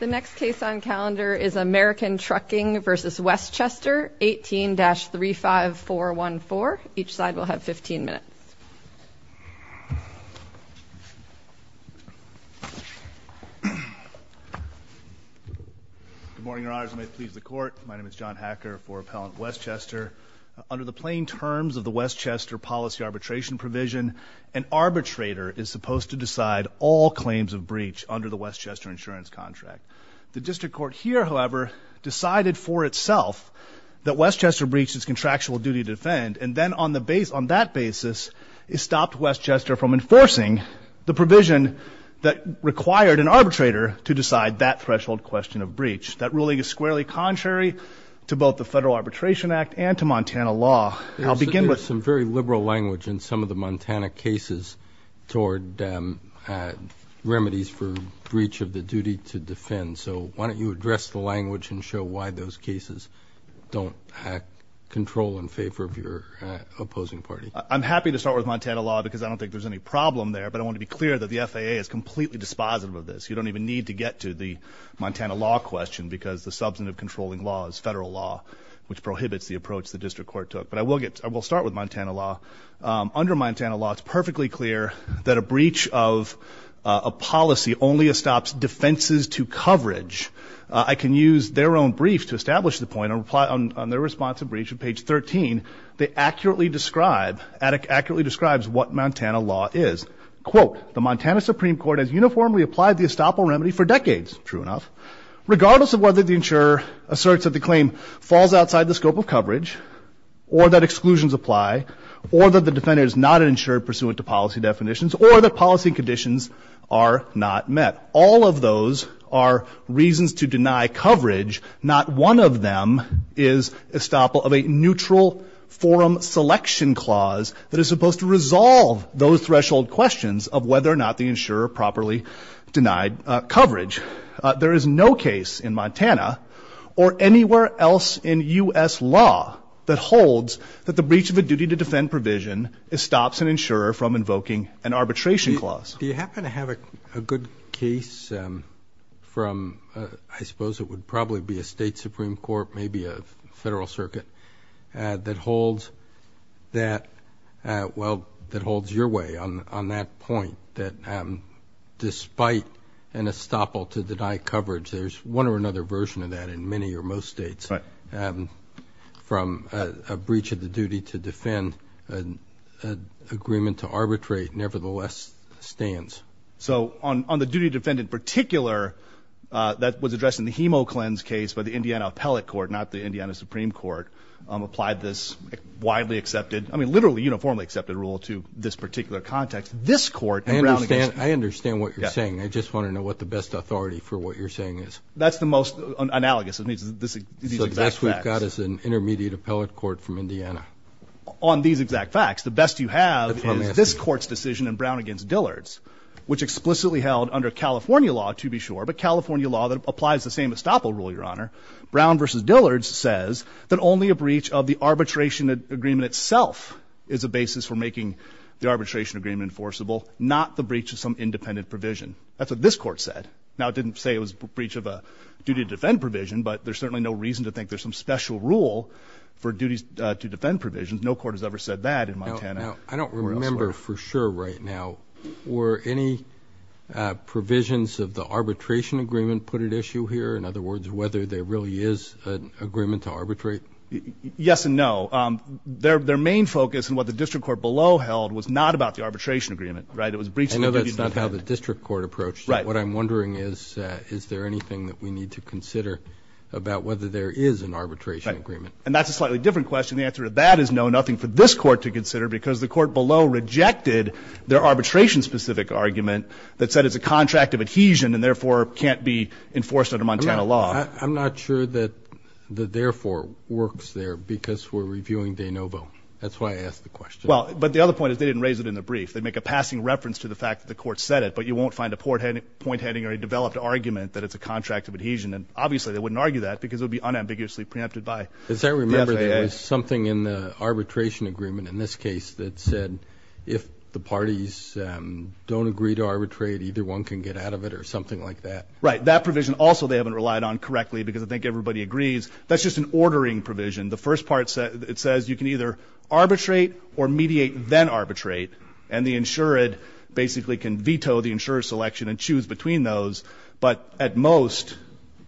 The next case on calendar is American Trucking v. Westchester, 18-35414. Each side will have 15 minutes. Good morning, Your Honors, and may it please the Court, my name is John Hacker for Appellant Westchester. Under the plain terms of the Westchester policy arbitration provision, an arbitrator is supposed to decide all claims of breach under the Westchester insurance contract. The District Court here, however, decided for itself that Westchester breached its contractual duty to defend, and then on that basis, it stopped Westchester from enforcing the provision that required an arbitrator to decide that threshold question of breach. That ruling is squarely contrary to both the Federal Arbitration Act and to Montana law. I'll begin with- There's some very liberal language in some of the Montana cases toward remedies for breach of the duty to defend. So why don't you address the language and show why those cases don't have control in favor of your opposing party? I'm happy to start with Montana law because I don't think there's any problem there, but I want to be clear that the FAA is completely dispositive of this. You don't even need to get to the Montana law question because the substantive controlling law is federal law, which prohibits the approach the District Court took. But I will start with Montana law. Under Montana law, it's perfectly clear that a breach of a policy only estops defenses to coverage. I can use their own brief to establish the point. On their response to breach, on page 13, they accurately describe what Montana law is. Quote, the Montana Supreme Court has uniformly applied the estoppel remedy for decades, true enough, regardless of whether the insurer asserts that the claim falls outside the scope of coverage, or that exclusions apply, or that the defender is not an insurer pursuant to policy definitions, or that policy conditions are not met. All of those are reasons to deny coverage. Not one of them is estoppel of a neutral forum selection clause that is supposed to resolve those threshold questions of whether or not the insurer properly denied coverage. There is no case in Montana or anywhere else in U.S. law that holds that the breach of a duty to defend provision estops an insurer from invoking an arbitration clause. Do you happen to have a good case from, I suppose it would probably be a state Supreme Court, maybe a federal circuit, that holds that, well, that holds your way on that point, that despite an estoppel to deny coverage, there's one or another version of that in many or most states. From a breach of the duty to defend, an agreement to arbitrate nevertheless stands. So on the duty to defend in particular, that was addressed in the HEMO cleanse case by the Indiana Appellate Court, not the Indiana Supreme Court, applied this widely accepted, I mean, literally uniformly accepted rule to this particular context. This court in Brown against- I understand what you're saying. I just want to know what the best authority for what you're saying is. That's the most analogous. It needs these exact facts. So the best we've got is an intermediate appellate court from Indiana. On these exact facts. The best you have is this court's decision in Brown against Dillard's, which explicitly held under California law, to be sure, but California law that applies the same estoppel rule, Your Honor. Brown versus Dillard's says that only a breach of the arbitration agreement itself is a basis for making the arbitration agreement enforceable, not the breach of some independent provision. That's what this court said. Now it didn't say it was a breach of a duty to defend provision, but there's certainly no reason to think there's some special rule for duties to defend provisions. No court has ever said that in Montana. I don't remember for sure right now were any provisions of the arbitration agreement put at issue here. In other words, whether there really is an agreement to arbitrate? Yes and no. Their main focus and what the district court below held was not about the arbitration agreement, right? It was a breach of the duty to defend. I know that's not how the district court approached it. Right. What I'm wondering is, is there anything that we need to consider about whether there is an arbitration agreement? Right. And that's a slightly different question. The answer to that is no, nothing for this court to consider because the court below rejected their arbitration specific argument that said it's a contract of adhesion and therefore can't be enforced under Montana law. I'm not sure that the therefore works there because we're reviewing De Novo. That's why I asked the question. Well, but the other point is they didn't raise it in the brief. They make a passing reference to the fact that the court said it, but you won't find a point heading or a developed argument that it's a contract of adhesion. And obviously they wouldn't argue that because it would be unambiguously preempted by the FAA. Because I remember there was something in the arbitration agreement in this case that said if the parties don't agree to arbitrate, either one can get out of it or something like that. Right. That provision also they haven't relied on correctly because I think everybody agrees. That's just an ordering provision. The first part, it says you can either arbitrate or mediate, then arbitrate. And the insured basically can veto the insurer selection and choose between those. But at most,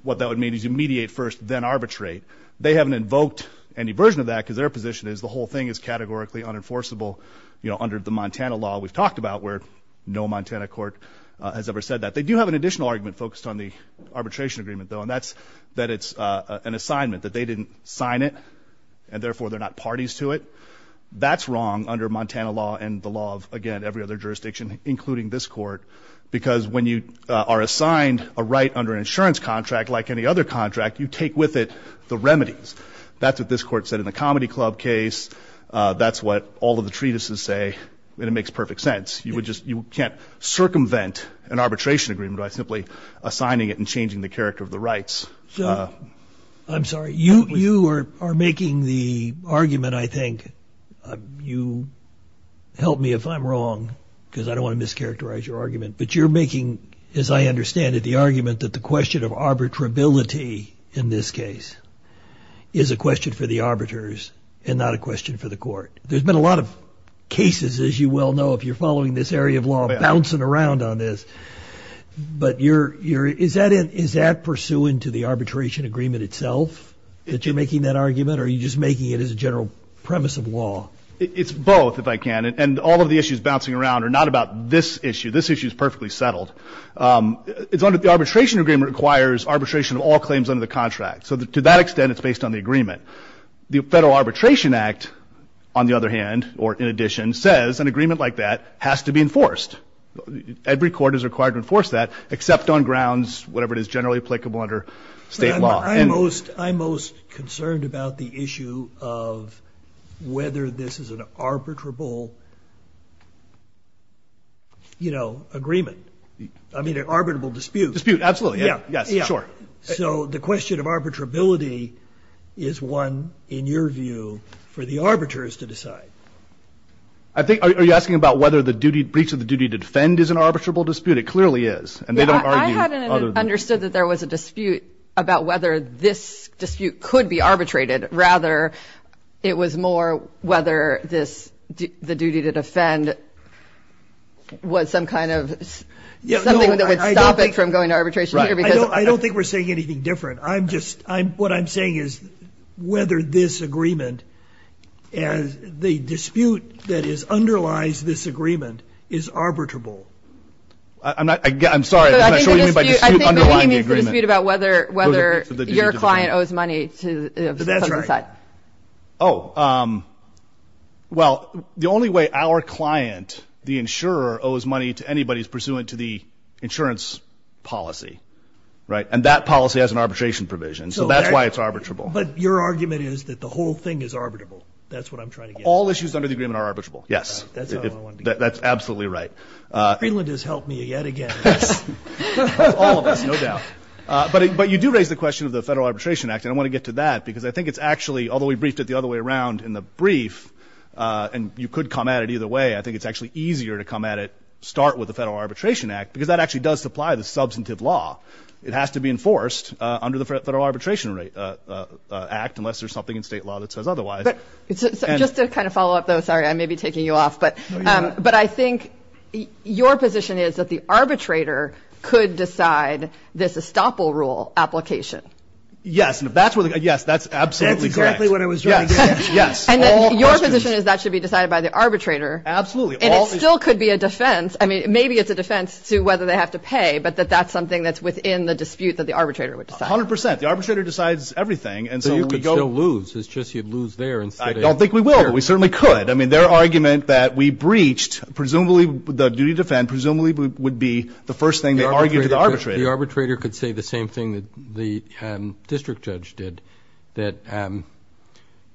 what that would mean is you mediate first, then arbitrate. They haven't invoked any version of that because their position is the whole thing is categorically unenforceable under the Montana law. We've talked about where no Montana court has ever said that. They do have an additional argument focused on the arbitration agreement, though, and that's that it's an assignment, that they didn't sign it, and therefore they're not parties to it. That's wrong under Montana law and the law of, again, every other jurisdiction, including this court, because when you are assigned a right under an insurance contract like any other contract, you take with it the remedies. That's what this court said in the Comedy Club case. That's what all of the treatises say, and it makes perfect sense. You can't circumvent an arbitration agreement by simply assigning it and changing the character of the rights. I'm sorry. You are making the argument, I think. You help me if I'm wrong, because I don't want to mischaracterize your argument. But you're making, as I understand it, the argument that the question of arbitrability in this case is a question for the arbiters and not a question for the court. There's been a lot of cases, as you well know, if you're following this area of law, bouncing around on this. But is that pursuant to the arbitration agreement itself, that you're making that argument, or are you just making it as a general premise of law? It's both, if I can, and all of the issues bouncing around are not about this issue. This issue is perfectly settled. The arbitration agreement requires arbitration of all claims under the contract. So to that extent, it's based on the agreement. The Federal Arbitration Act, on the other hand, or in addition, says an agreement like that has to be enforced. Every court is required to enforce that, except on grounds, whatever it is, generally applicable under state law. I'm most concerned about the issue of whether this is an arbitrable agreement, I mean an arbitrable dispute. Dispute, absolutely. Yes, sure. So the question of arbitrability is one, in your view, for the arbiters to decide. I think, are you asking about whether the breach of the duty to defend is an arbitrable dispute? It clearly is. I hadn't understood that there was a dispute about whether this dispute could be arbitrated. Rather, it was more whether the duty to defend was some kind of, something that would stop it from going to arbitration. I don't think we're saying anything different. What I'm saying is whether this agreement, the dispute that underlies this agreement, is arbitrable. I'm sorry, I'm not sure you mean by dispute underlying the agreement. I think you mean the dispute about whether your client owes money to the other side. Oh, well, the only way our client, the insurer, owes money to anybody is pursuant to the insurance policy. Right? And that policy has an arbitration provision, so that's why it's arbitrable. But your argument is that the whole thing is arbitrable. That's what I'm trying to get at. All issues under the agreement are arbitrable, yes. That's absolutely right. Greenland has helped me yet again. All of us, no doubt. But you do raise the question of the Federal Arbitration Act, and I want to get to that because I think it's actually, although we briefed it the other way around in the brief, with the Federal Arbitration Act, because that actually does supply the substantive law. It has to be enforced under the Federal Arbitration Act, unless there's something in state law that says otherwise. Just to kind of follow up, though, sorry, I may be taking you off, but I think your position is that the arbitrator could decide this estoppel rule application. Yes, and if that's what, yes, that's absolutely correct. That's exactly what I was trying to get at. Yes. And your position is that should be decided by the arbitrator. Absolutely. And it still could be a defense. I mean, maybe it's a defense to whether they have to pay, but that that's something that's within the dispute that the arbitrator would decide. 100 percent. The arbitrator decides everything. So you could still lose. It's just you'd lose there instead of here. I don't think we will, but we certainly could. I mean, their argument that we breached presumably the duty to defend presumably would be the first thing they argued to the arbitrator. The arbitrator could say the same thing that the district judge did, that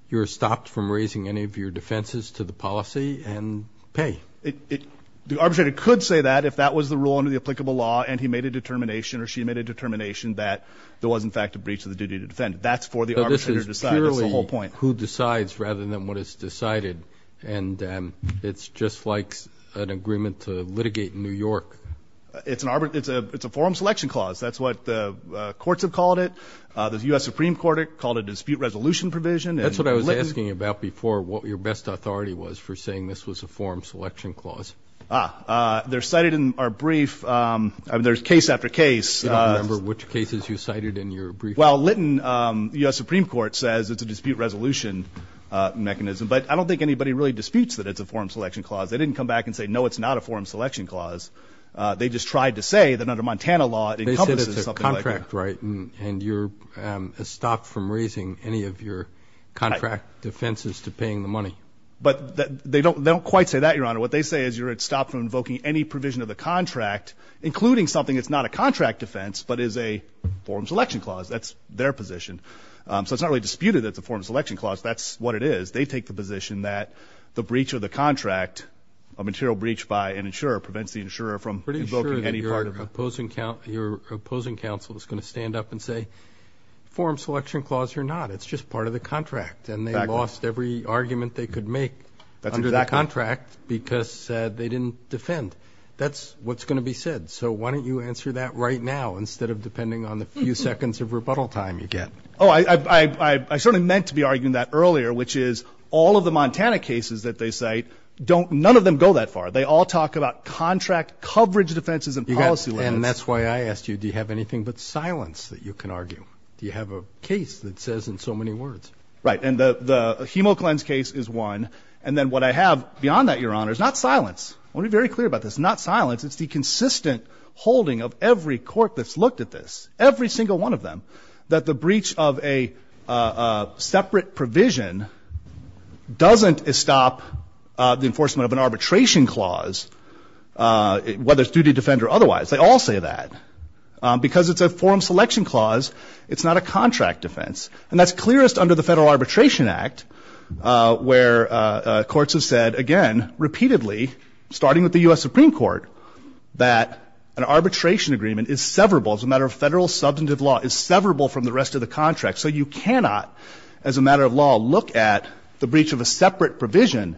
you're stopped from raising any of your defenses to the policy and pay it. The arbitrator could say that if that was the rule under the applicable law and he made a determination or she made a determination that there was, in fact, a breach of the duty to defend. That's for the arbitrator to decide. That's the whole point. Who decides rather than what is decided. And it's just like an agreement to litigate in New York. It's an arbiter. It's a it's a forum selection clause. That's what the courts have called it. The U.S. Supreme Court called a dispute resolution provision. That's what I was asking about before. What your best authority was for saying this was a forum selection clause. They're cited in our brief. There's case after case. I don't remember which cases you cited in your brief. Well, Litton, U.S. Supreme Court says it's a dispute resolution mechanism. But I don't think anybody really disputes that it's a forum selection clause. They didn't come back and say, no, it's not a forum selection clause. They just tried to say that under Montana law, it encompasses something like that. And you're stopped from raising any of your contract defenses to paying the money. But they don't quite say that, Your Honor. What they say is you're stopped from invoking any provision of the contract, including something that's not a contract defense, but is a forum selection clause. That's their position. So it's not really disputed that the forum selection clause. That's what it is. They take the position that the breach of the contract, a material breach by an insurer prevents the insurer from invoking any part of it. Your opposing counsel is going to stand up and say, forum selection clause, you're not. It's just part of the contract. And they lost every argument they could make under that contract because they didn't defend. That's what's going to be said. So why don't you answer that right now instead of depending on the few seconds of rebuttal time you get? Oh, I certainly meant to be arguing that earlier, which is all of the Montana cases that they cite, none of them go that far. They all talk about contract coverage defenses and policy laws. And that's why I asked you, do you have anything but silence that you can argue? Do you have a case that says in so many words? Right. And the HemoGlenz case is one. And then what I have beyond that, Your Honor, is not silence. I want to be very clear about this. Not silence. It's the consistent holding of every court that's looked at this, every single one of them, that the breach of a separate provision doesn't stop the enforcement of an arbitration clause, whether it's duty to defend or otherwise. They all say that. Because it's a forum selection clause, it's not a contract defense. And that's clearest under the Federal Arbitration Act, where courts have said, again, repeatedly, starting with the U.S. Supreme Court, that an arbitration agreement is severable as a matter of federal substantive law, is severable from the rest of the contract. So you cannot, as a matter of law, look at the breach of a separate provision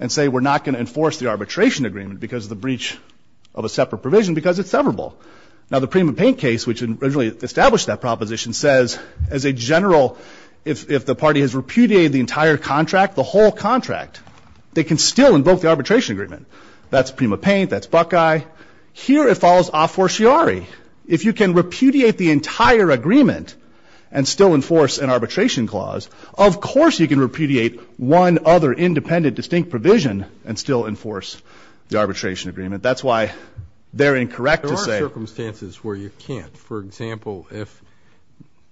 and say we're not going to enforce the arbitration agreement because of the breach of a separate provision because it's severable. Now the Prima Paint case, which originally established that proposition, says, as a general, if the party has repudiated the entire contract, the whole contract, they can still invoke the arbitration agreement. That's Prima Paint. That's Buckeye. Here it follows a fortiori. If you can repudiate the entire agreement and still enforce an arbitration clause, of course you can repudiate one other independent distinct provision and still enforce the arbitration agreement. That's why they're incorrect to say — There are circumstances where you can't. For example, if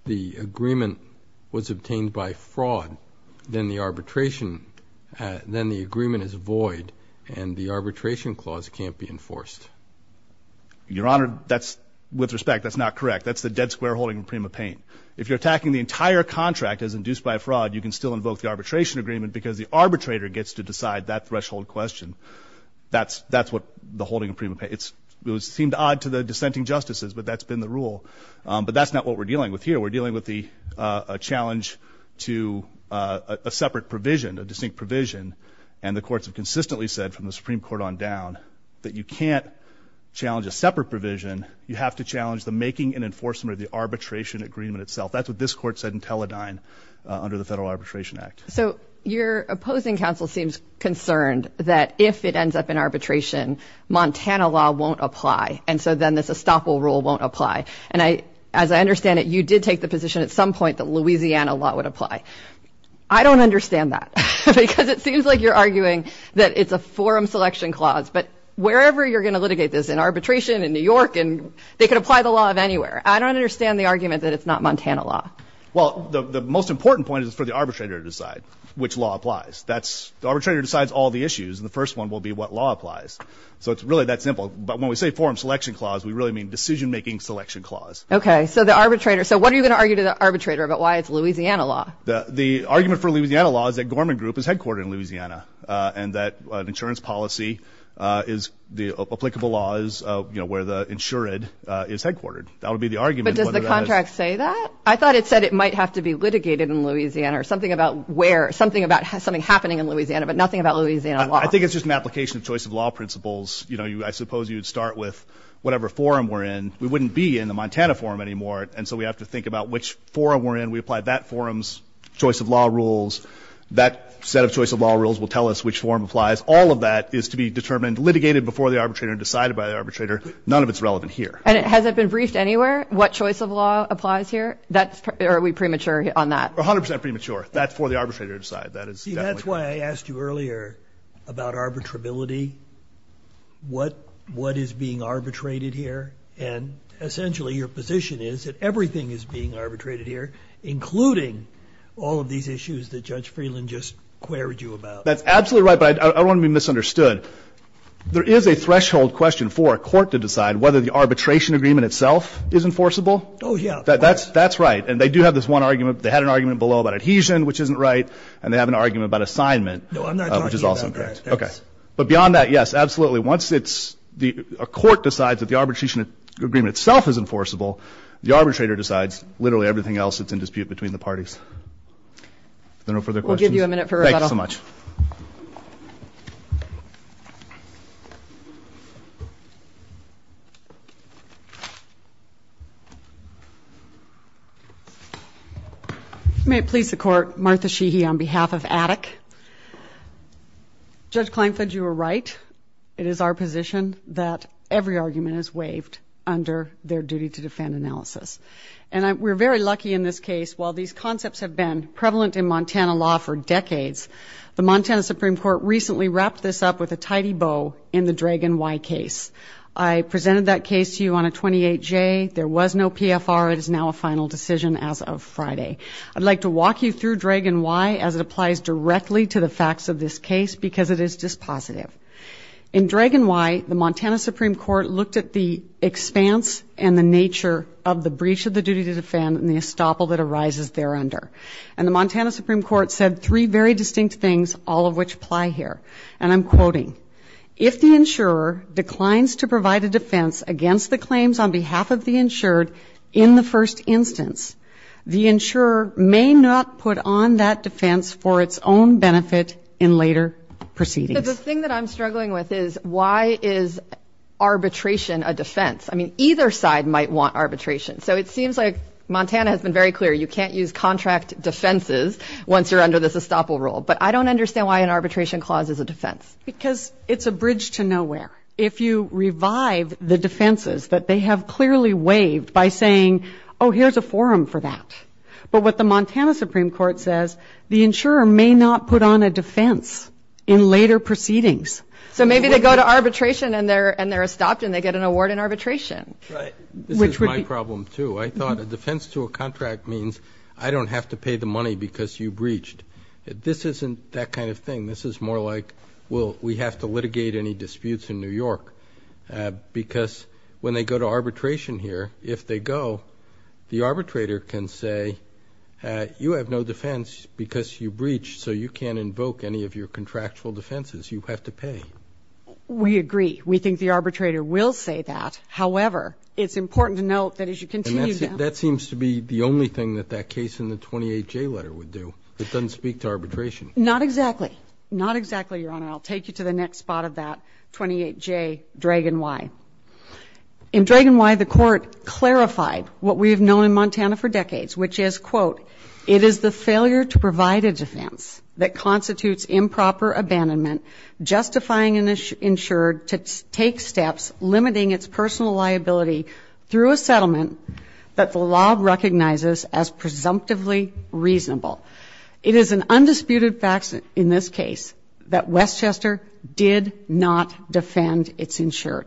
the agreement was obtained by fraud, then the arbitration — then the agreement is void and the arbitration clause can't be enforced. Your Honor, that's — with respect, that's not correct. That's the dead square holding in Prima Paint. If you're attacking the entire contract as induced by a fraud, you can still invoke the arbitration agreement because the arbitrator gets to decide that threshold question. That's what the holding in Prima Paint — it seemed odd to the dissenting justices, but that's been the rule. But that's not what we're dealing with here. We're dealing with a challenge to a separate provision, a distinct provision, and the courts have consistently said from the Supreme Court on down that you can't challenge a separate provision. You have to challenge the making and enforcement of the arbitration agreement itself. That's what this Court said in Teledyne under the Federal Arbitration Act. So your opposing counsel seems concerned that if it ends up in arbitration, Montana law won't apply, and so then this estoppel rule won't apply. And I — as I understand it, you did take the position at some point that Louisiana law would apply. I don't understand that because it seems like you're arguing that it's a forum selection clause. But wherever you're going to litigate this, in arbitration, in New York, they could apply the law of anywhere. I don't understand the argument that it's not Montana law. Well, the most important point is for the arbitrator to decide which law applies. That's — the arbitrator decides all the issues, and the first one will be what law applies. So it's really that simple. But when we say forum selection clause, we really mean decision-making selection clause. Okay. So the arbitrator — so what are you going to argue to the arbitrator about why it's Louisiana law? The argument for Louisiana law is that Gorman Group is headquartered in Louisiana and that an insurance policy is — the applicable law is, you know, where the insured is headquartered. That would be the argument. But does the contract say that? I thought it said it might have to be litigated in Louisiana or something about where — something about something happening in Louisiana, but nothing about Louisiana law. I think it's just an application of choice of law principles. You know, I suppose you'd start with whatever forum we're in. We wouldn't be in the Montana forum anymore, and so we have to think about which forum we're in. We apply that forum's choice of law rules. That set of choice of law rules will tell us which forum applies. All of that is to be determined, litigated before the arbitrator and decided by the arbitrator. None of it's relevant here. And has it been briefed anywhere, what choice of law applies here? That's — or are we premature on that? A hundred percent premature. That's for the arbitrator to decide. That is definitely — See, that's why I asked you earlier about arbitrability, what is being arbitrated here. And essentially, your position is that everything is being arbitrated here, including all of these issues that Judge Freeland just queried you about. That's absolutely right, but I don't want to be misunderstood. There is a threshold question for a court to decide whether the arbitration agreement itself is enforceable. Oh, yeah. Of course. That's right. And they do have this one argument. They had an argument below about adhesion, which isn't right, and they have an argument about assignment — No, I'm not talking about that. — which is also correct. Okay. But beyond that, yes, absolutely. Once it's — a court decides that the arbitration agreement itself is enforceable, the arbitrator decides literally everything else that's in dispute between the parties. If there are no further questions — We'll give you a minute for rebuttal. Thanks so much. May it please the Court, Martha Sheehy on behalf of Attic. Judge Klinefeld, you were right. It is our position that every argument is waived under their duty-to-defend analysis. And we're very lucky in this case. While these concepts have been prevalent in Montana law for decades, the Montana Supreme Court recently wrapped this up with a tidy bow in the Dragan Y case. I presented that case to you on a 28-J. There was no PFR. It is now a final decision as of Friday. I'd like to walk you through Dragan Y as it applies directly to the facts of this case, because it is dispositive. In Dragan Y, the Montana Supreme Court looked at the expanse and the nature of the breach of the duty-to-defend and the estoppel that arises thereunder. And the Montana Supreme Court said three very distinct things, all of which apply here. And I'm quoting. If the insurer declines to provide a defense against the claims on behalf of the insured in the first instance, the insurer may not put on that defense for its own benefit in later proceedings. But the thing that I'm struggling with is, why is arbitration a defense? I mean, either side might want arbitration. So it seems like Montana has been very clear, you can't use contract defenses once you're under this estoppel rule. But I don't understand why an arbitration clause is a defense. Because it's a bridge to nowhere. If you revive the defenses that they have clearly waived by saying, oh, here's a forum for that. But what the Montana Supreme Court says, the insurer may not put on a defense in later proceedings. So maybe they go to arbitration and they're estopped and they get an award in arbitration. Right. This is my problem, too. I thought a defense to a contract means, I don't have to pay the money because you breached. This isn't that kind of thing. This is more like, well, we have to litigate any disputes in New York. Because when they go to arbitration here, if they go, the arbitrator can say, you have no defense because you breached. So you can't invoke any of your contractual defenses. You have to pay. We agree. We think the arbitrator will say that. However, it's important to note that as you continue down. That seems to be the only thing that that case in the 28J letter would do. It doesn't speak to arbitration. Not exactly. Not exactly, Your Honor. I'll take you to the next spot of that 28J, Dragon Y. In Dragon Y, the court clarified what we have known in Montana for decades, which is, quote, it is the failure to provide a defense that constitutes improper abandonment, justifying an insured to take steps limiting its personal liability through a settlement that the law recognizes as presumptively reasonable. It is an undisputed fact in this case that Westchester did not defend its insured.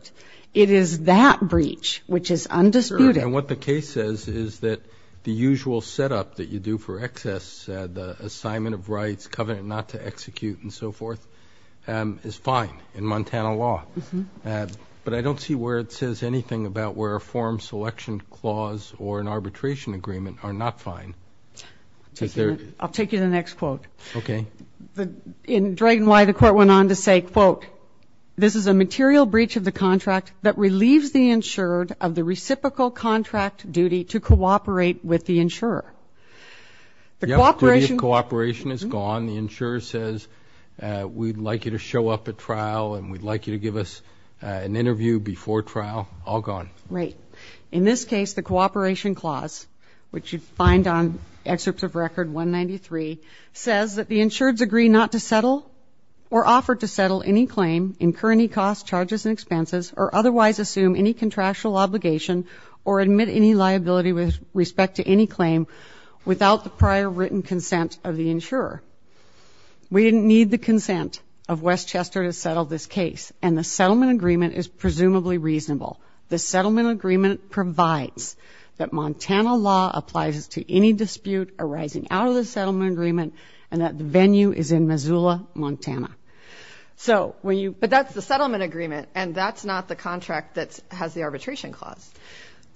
It is that breach which is undisputed. And what the case says is that the usual setup that you do for excess, the assignment of in Montana law. But I don't see where it says anything about where a form selection clause or an arbitration agreement are not fine. I'll take you to the next quote. In Dragon Y, the court went on to say, quote, this is a material breach of the contract that relieves the insured of the reciprocal contract duty to cooperate with the insurer. The cooperation. The duty of cooperation is gone. The insurer says we'd like you to show up at trial and we'd like you to give us an interview before trial. All gone. Right. In this case, the cooperation clause, which you'd find on excerpts of record 193, says that the insureds agree not to settle or offer to settle any claim, incur any costs, charges and expenses, or otherwise assume any contractual obligation or admit any liability with respect to any claim without the prior written consent of the insurer. We didn't need the consent of Westchester to settle this case. And the settlement agreement is presumably reasonable. The settlement agreement provides that Montana law applies to any dispute arising out of the settlement agreement and that the venue is in Missoula, Montana. So when you. But that's the settlement agreement. And that's not the contract that has the arbitration clause.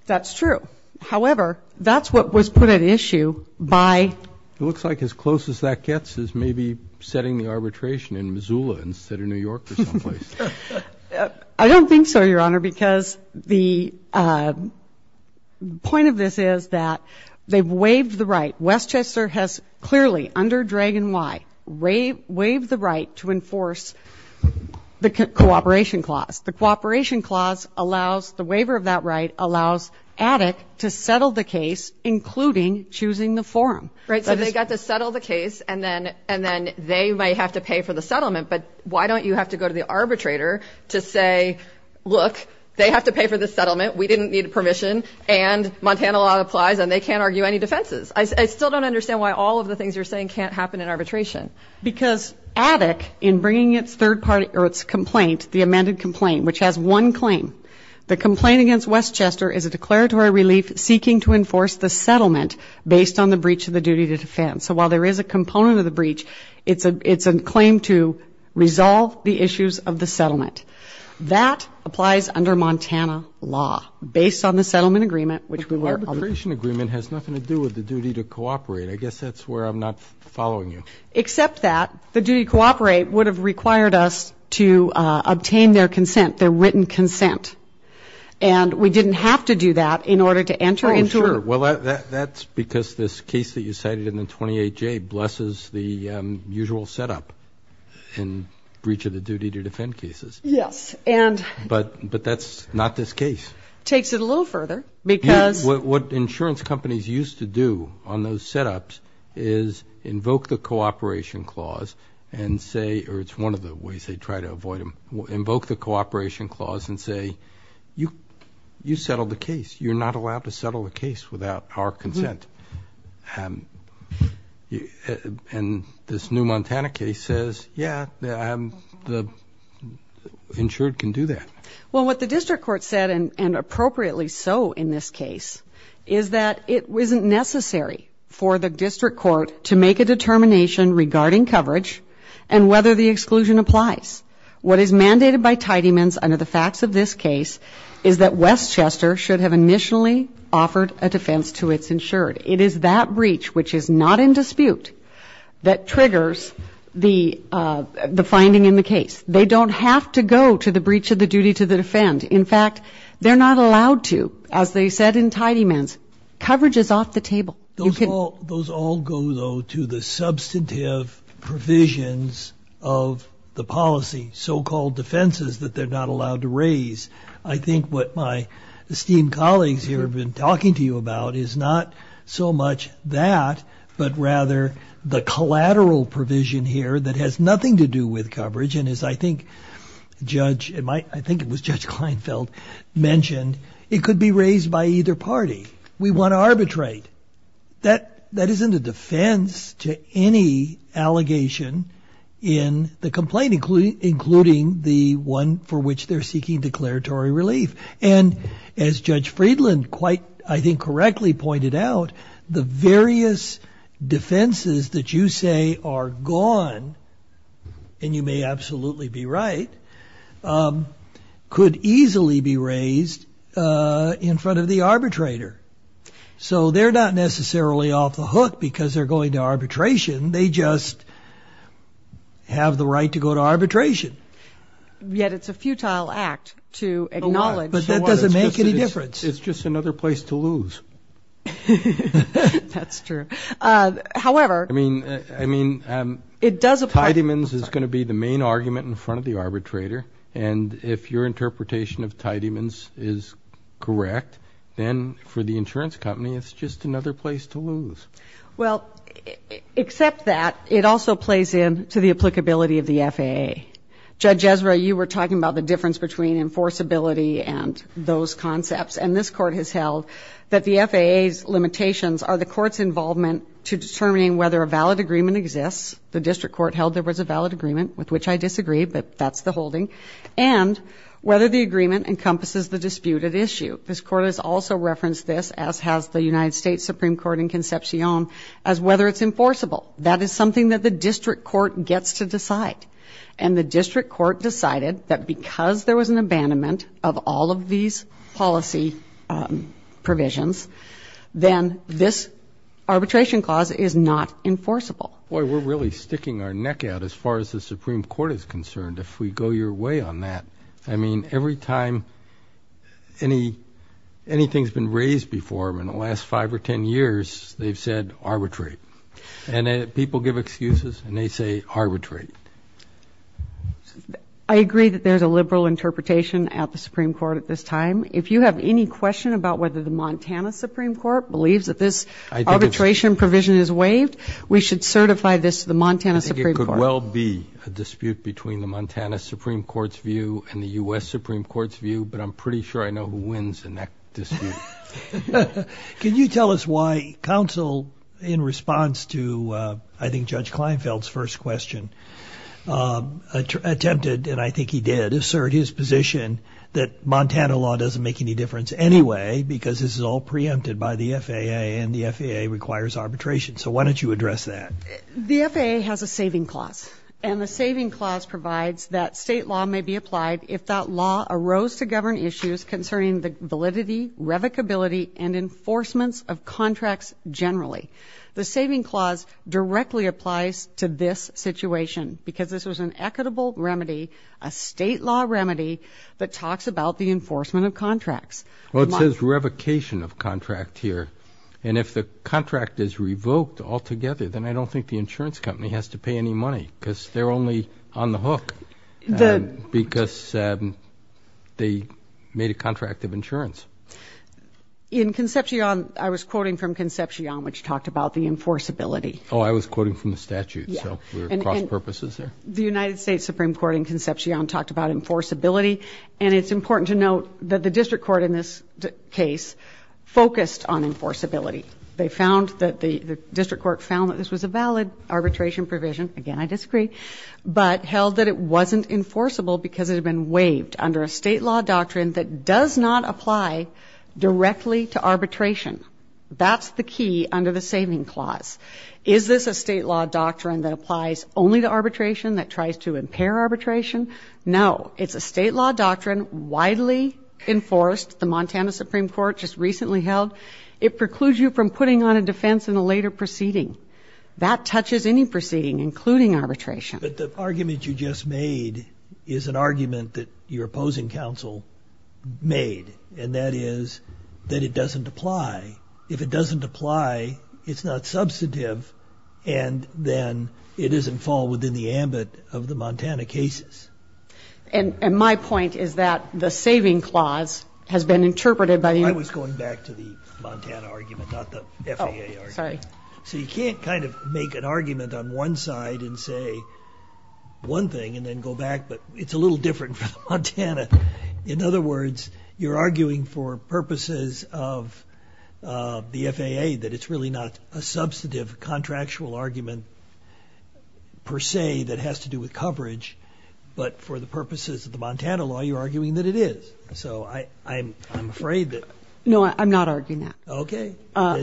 That's true. However, that's what was put at issue by. It looks like as close as that gets is maybe setting the arbitration in Missoula instead of New York or someplace. I don't think so, Your Honor, because the point of this is that they've waived the right. Westchester has clearly under Dragon Y, waived the right to enforce the cooperation clause. The cooperation clause allows the waiver of that right, allows Attic to settle the case, including choosing the forum. Right. So they got to settle the case and then and then they might have to pay for the settlement. But why don't you have to go to the arbitrator to say, look, they have to pay for the settlement. We didn't need a permission. And Montana law applies and they can't argue any defenses. I still don't understand why all of the things you're saying can't happen in arbitration Because Attic in bringing its third party or its complaint, the amended complaint, which has one claim, the complaint against Westchester is a declaratory relief seeking to enforce the settlement based on the breach of the duty to defend. So while there is a component of the breach, it's a it's a claim to resolve the issues of the settlement that applies under Montana law based on the settlement agreement, which we were. The arbitration agreement has nothing to do with the duty to cooperate. I guess that's where I'm not following you. Except that the duty to cooperate would have required us to obtain their consent, their written consent. And we didn't have to do that in order to enter into it. Well, that's because this case that you cited in the 28-J blesses the usual setup in breach of the duty to defend cases. Yes. And but but that's not this case. Takes it a little further because what insurance companies used to do on those setups is invoke the cooperation clause and say, or it's one of the ways they try to avoid them, invoke the cooperation clause and say, you you settled the case. You're not allowed to settle a case without our consent. And this new Montana case says, yeah, the insured can do that. Well, what the district court said, and appropriately so in this case, is that it wasn't necessary for the district court to make a determination regarding coverage and whether the exclusion applies. What is mandated by Tidyman's under the facts of this case is that Westchester should have initially offered a defense to its insured. It is that breach, which is not in dispute, that triggers the the finding in the case. They don't have to go to the breach of the duty to defend. In fact, they're not allowed to, as they said in Tidyman's. Coverage is off the table. Those all, those all go, though, to the substantive provisions of the policy, so-called defenses that they're not allowed to raise. I think what my esteemed colleagues here have been talking to you about is not so much that, but rather the collateral provision here that has nothing to do with coverage. And as I think Judge, I think it was Judge Kleinfeld mentioned, it could be raised by either party. We want to arbitrate. That isn't a defense to any allegation in the complaint, including the one for which they're seeking declaratory relief. And as Judge Friedland quite, I think, correctly pointed out, the various defenses that you say are gone, and you may absolutely be right, could easily be raised in front of the arbitrator. So they're not necessarily off the hook because they're going to arbitration. They just have the right to go to arbitration. Yet it's a futile act to acknowledge. But that doesn't make any difference. It's just another place to lose. That's true. However, I mean, I mean, it does apply. Tidyman's is going to be the main argument in front of the arbitrator. And if your interpretation of Tidyman's is correct, then for the insurance company, it's just another place to lose. Well, except that, it also plays in to the applicability of the FAA. Judge Ezra, you were talking about the difference between enforceability and those concepts. And this court has held that the FAA's limitations are the court's involvement to determining whether a valid agreement exists. The district court held there was a valid agreement, with which I disagree, but that's the holding. And whether the agreement encompasses the disputed issue. This court has also referenced this, as has the United States Supreme Court in Concepcion, as whether it's enforceable. That is something that the district court gets to decide. And the district court decided that because there was an abandonment of all of these policy provisions, then this arbitration clause is not enforceable. Boy, we're really sticking our neck out as far as the Supreme Court is concerned, if we go your way on that. I mean, every time anything's been raised before in the last five or ten years, they've said arbitrate. And people give excuses, and they say arbitrate. I agree that there's a liberal interpretation at the Supreme Court at this time. If you have any question about whether the Montana Supreme Court believes that this arbitration provision is waived, we should certify this to the Montana Supreme Court. I think it could well be a dispute between the Montana Supreme Court's view and the U.S. Supreme Court's view, but I'm pretty sure I know who wins in that dispute. Can you tell us why counsel, in response to, I think, Judge Kleinfeld's first question, attempted, and I think he did, assert his position that Montana law doesn't make any difference anyway, because this is all preempted by the FAA, and the FAA requires arbitration. So why don't you address that? The FAA has a saving clause, and the saving clause provides that state law may be applied if that law arose to govern issues concerning the validity, revocability, and enforcements of contracts generally. The saving clause directly applies to this situation, because this was an equitable remedy, a state law remedy that talks about the enforcement of contracts. Well, it says revocation of contract here. And if the contract is revoked altogether, then I don't think the insurance company has to pay any money, because they're only on the hook. Because they made a contract of insurance. In Concepcion, I was quoting from Concepcion, which talked about the enforceability. Oh, I was quoting from the statute, so we're cross-purposes there? The United States Supreme Court in Concepcion talked about enforceability, and it's important to note that the district court in this case focused on enforceability. They found that the district court found that this was a valid arbitration provision, again, I disagree, but held that it wasn't enforceable because it had been waived under a state law doctrine that does not apply directly to arbitration. That's the key under the saving clause. Is this a state law doctrine that applies only to arbitration, that tries to impair arbitration? No, it's a state law doctrine widely enforced, the Montana Supreme Court just recently held. It precludes you from putting on a defense in a later proceeding. That touches any proceeding, including arbitration. But the argument you just made is an argument that your opposing counsel made, and that is that it doesn't apply. If it doesn't apply, it's not substantive, and then it doesn't fall within the ambit of the Montana cases. And my point is that the saving clause has been interpreted by the- I was going back to the Montana argument, not the FAA argument. Oh, sorry. So you can't kind of make an argument on one side and say one thing and then go back, but it's a little different for Montana. In other words, you're arguing for purposes of the FAA that it's really not a substantive contractual argument, per se, that has to do with coverage. But for the purposes of the Montana law, you're arguing that it is. So I'm afraid that- No, I'm not arguing that. Okay.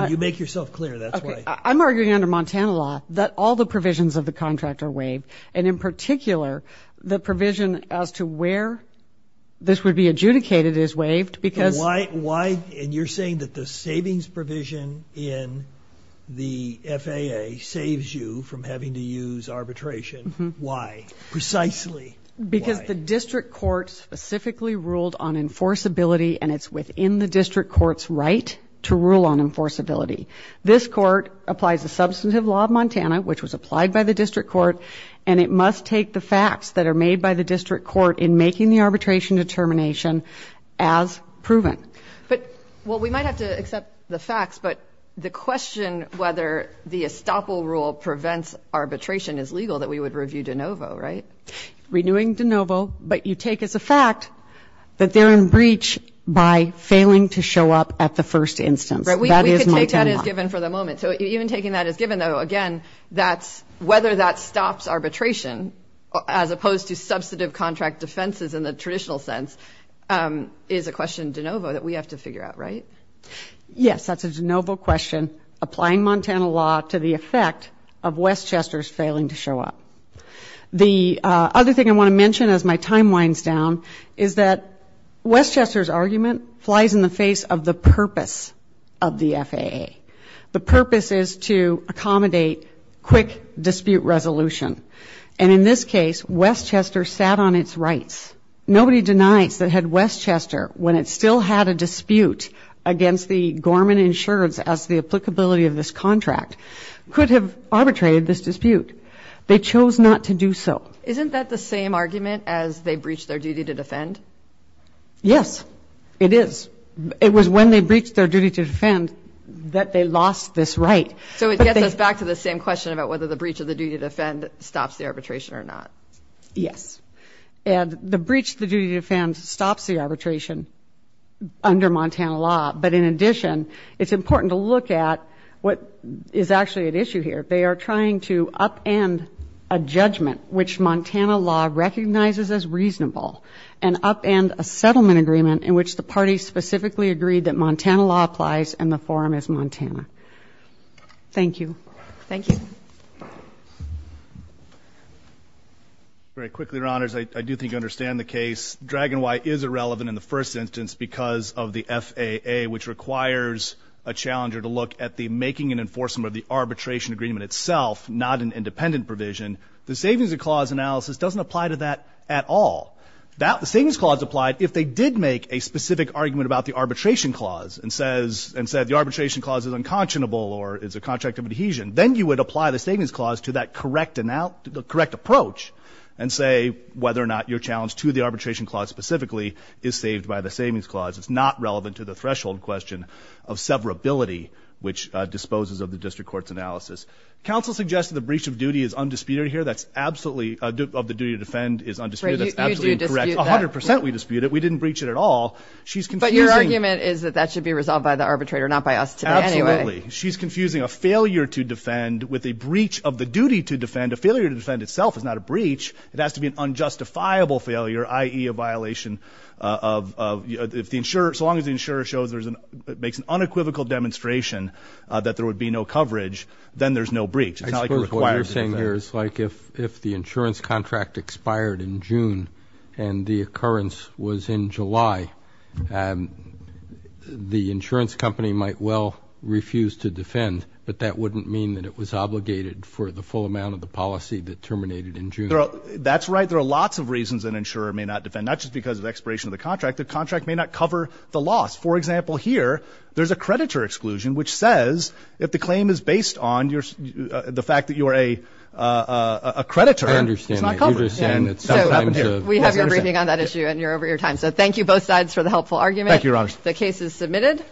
You make yourself clear, that's why. I'm arguing under Montana law that all the provisions of the contract are waived. And in particular, the provision as to where this would be adjudicated is waived, because- Why, and you're saying that the savings provision in the FAA saves you from having to use arbitration. Why? Precisely why? Because the district court specifically ruled on enforceability, and it's within the district court's right to rule on enforceability. This court applies the substantive law of Montana, which was applied by the district court, and it must take the facts that are made by the district court in making the arbitration determination as proven. But, well, we might have to accept the facts, but the question whether the estoppel rule prevents arbitration is legal, that we would review de novo, right? Renewing de novo, but you take as a fact that they're in breach by failing to show up at the first instance. That is Montana law. We can take that as given for the moment. So even taking that as given, though, again, whether that stops arbitration, as opposed to substantive contract defenses in the traditional sense, is a question de novo that we have to figure out, right? Yes, that's a de novo question, applying Montana law to the effect of Westchester's failing to show up. The other thing I want to mention as my time winds down is that Westchester's argument flies in the face of the purpose of the FAA. The purpose is to accommodate quick dispute resolution, and in this case, Westchester sat on its rights. Nobody denies that had Westchester, when it still had a dispute against the Gorman insureds as the applicability of this contract, could have arbitrated this dispute. They chose not to do so. Isn't that the same argument as they breached their duty to defend? Yes, it is. It was when they breached their duty to defend that they lost this right. So it gets us back to the same question about whether the breach of the duty to defend stops the arbitration or not. Yes. And the breach of the duty to defend stops the arbitration under Montana law, but in addition, it's important to look at what is actually at issue here. They are trying to upend a judgment which Montana law recognizes as reasonable and upend a settlement agreement in which the party specifically agreed that Montana law applies and the forum is Montana. Thank you. Thank you. Very quickly, your honors, I do think I understand the case. Dragon Y is irrelevant in the first instance because of the FAA, which requires a challenger to look at the making and enforcement of the arbitration agreement itself, not an independent provision. The savings clause analysis doesn't apply to that at all. The savings clause applied if they did make a specific argument about the arbitration clause and said the arbitration clause is unconscionable or is a contract of adhesion. Then you would apply the savings clause to that correct approach and say whether or not your challenge to the arbitration clause specifically is saved by the savings clause. It's not relevant to the threshold question of severability, which disposes of the district court's analysis. Counsel suggested the breach of duty is undisputed here. That's absolutely, of the duty to defend is undisputed, that's absolutely incorrect. 100% we dispute it. We didn't breach it at all. She's confusing- But your argument is that that should be resolved by the arbitrator, not by us today anyway. Absolutely. She's confusing a failure to defend with a breach of the duty to defend. A failure to defend itself is not a breach. It has to be an unjustifiable failure, i.e., a violation of, if the insurer, so long as the insurer makes an unequivocal demonstration that there would be no coverage, then there's no breach. It's not like a required- I suppose what you're saying here is like if the insurance contract expired in June and the occurrence was in July, the insurance company might well refuse to defend, but that wouldn't mean that it was obligated for the full amount of the policy that terminated in June. That's right. There are lots of reasons an insurer may not defend, not just because of expiration of the contract. The contract may not cover the loss. For example, here, there's a creditor exclusion, which says if the claim is based on the fact that you're a creditor, it's not covered. I understand that. You understand that sometimes- So, we have your briefing on that issue, and you're over your time. So, thank you both sides for the helpful argument. Thank you, Your Honor. The case is submitted.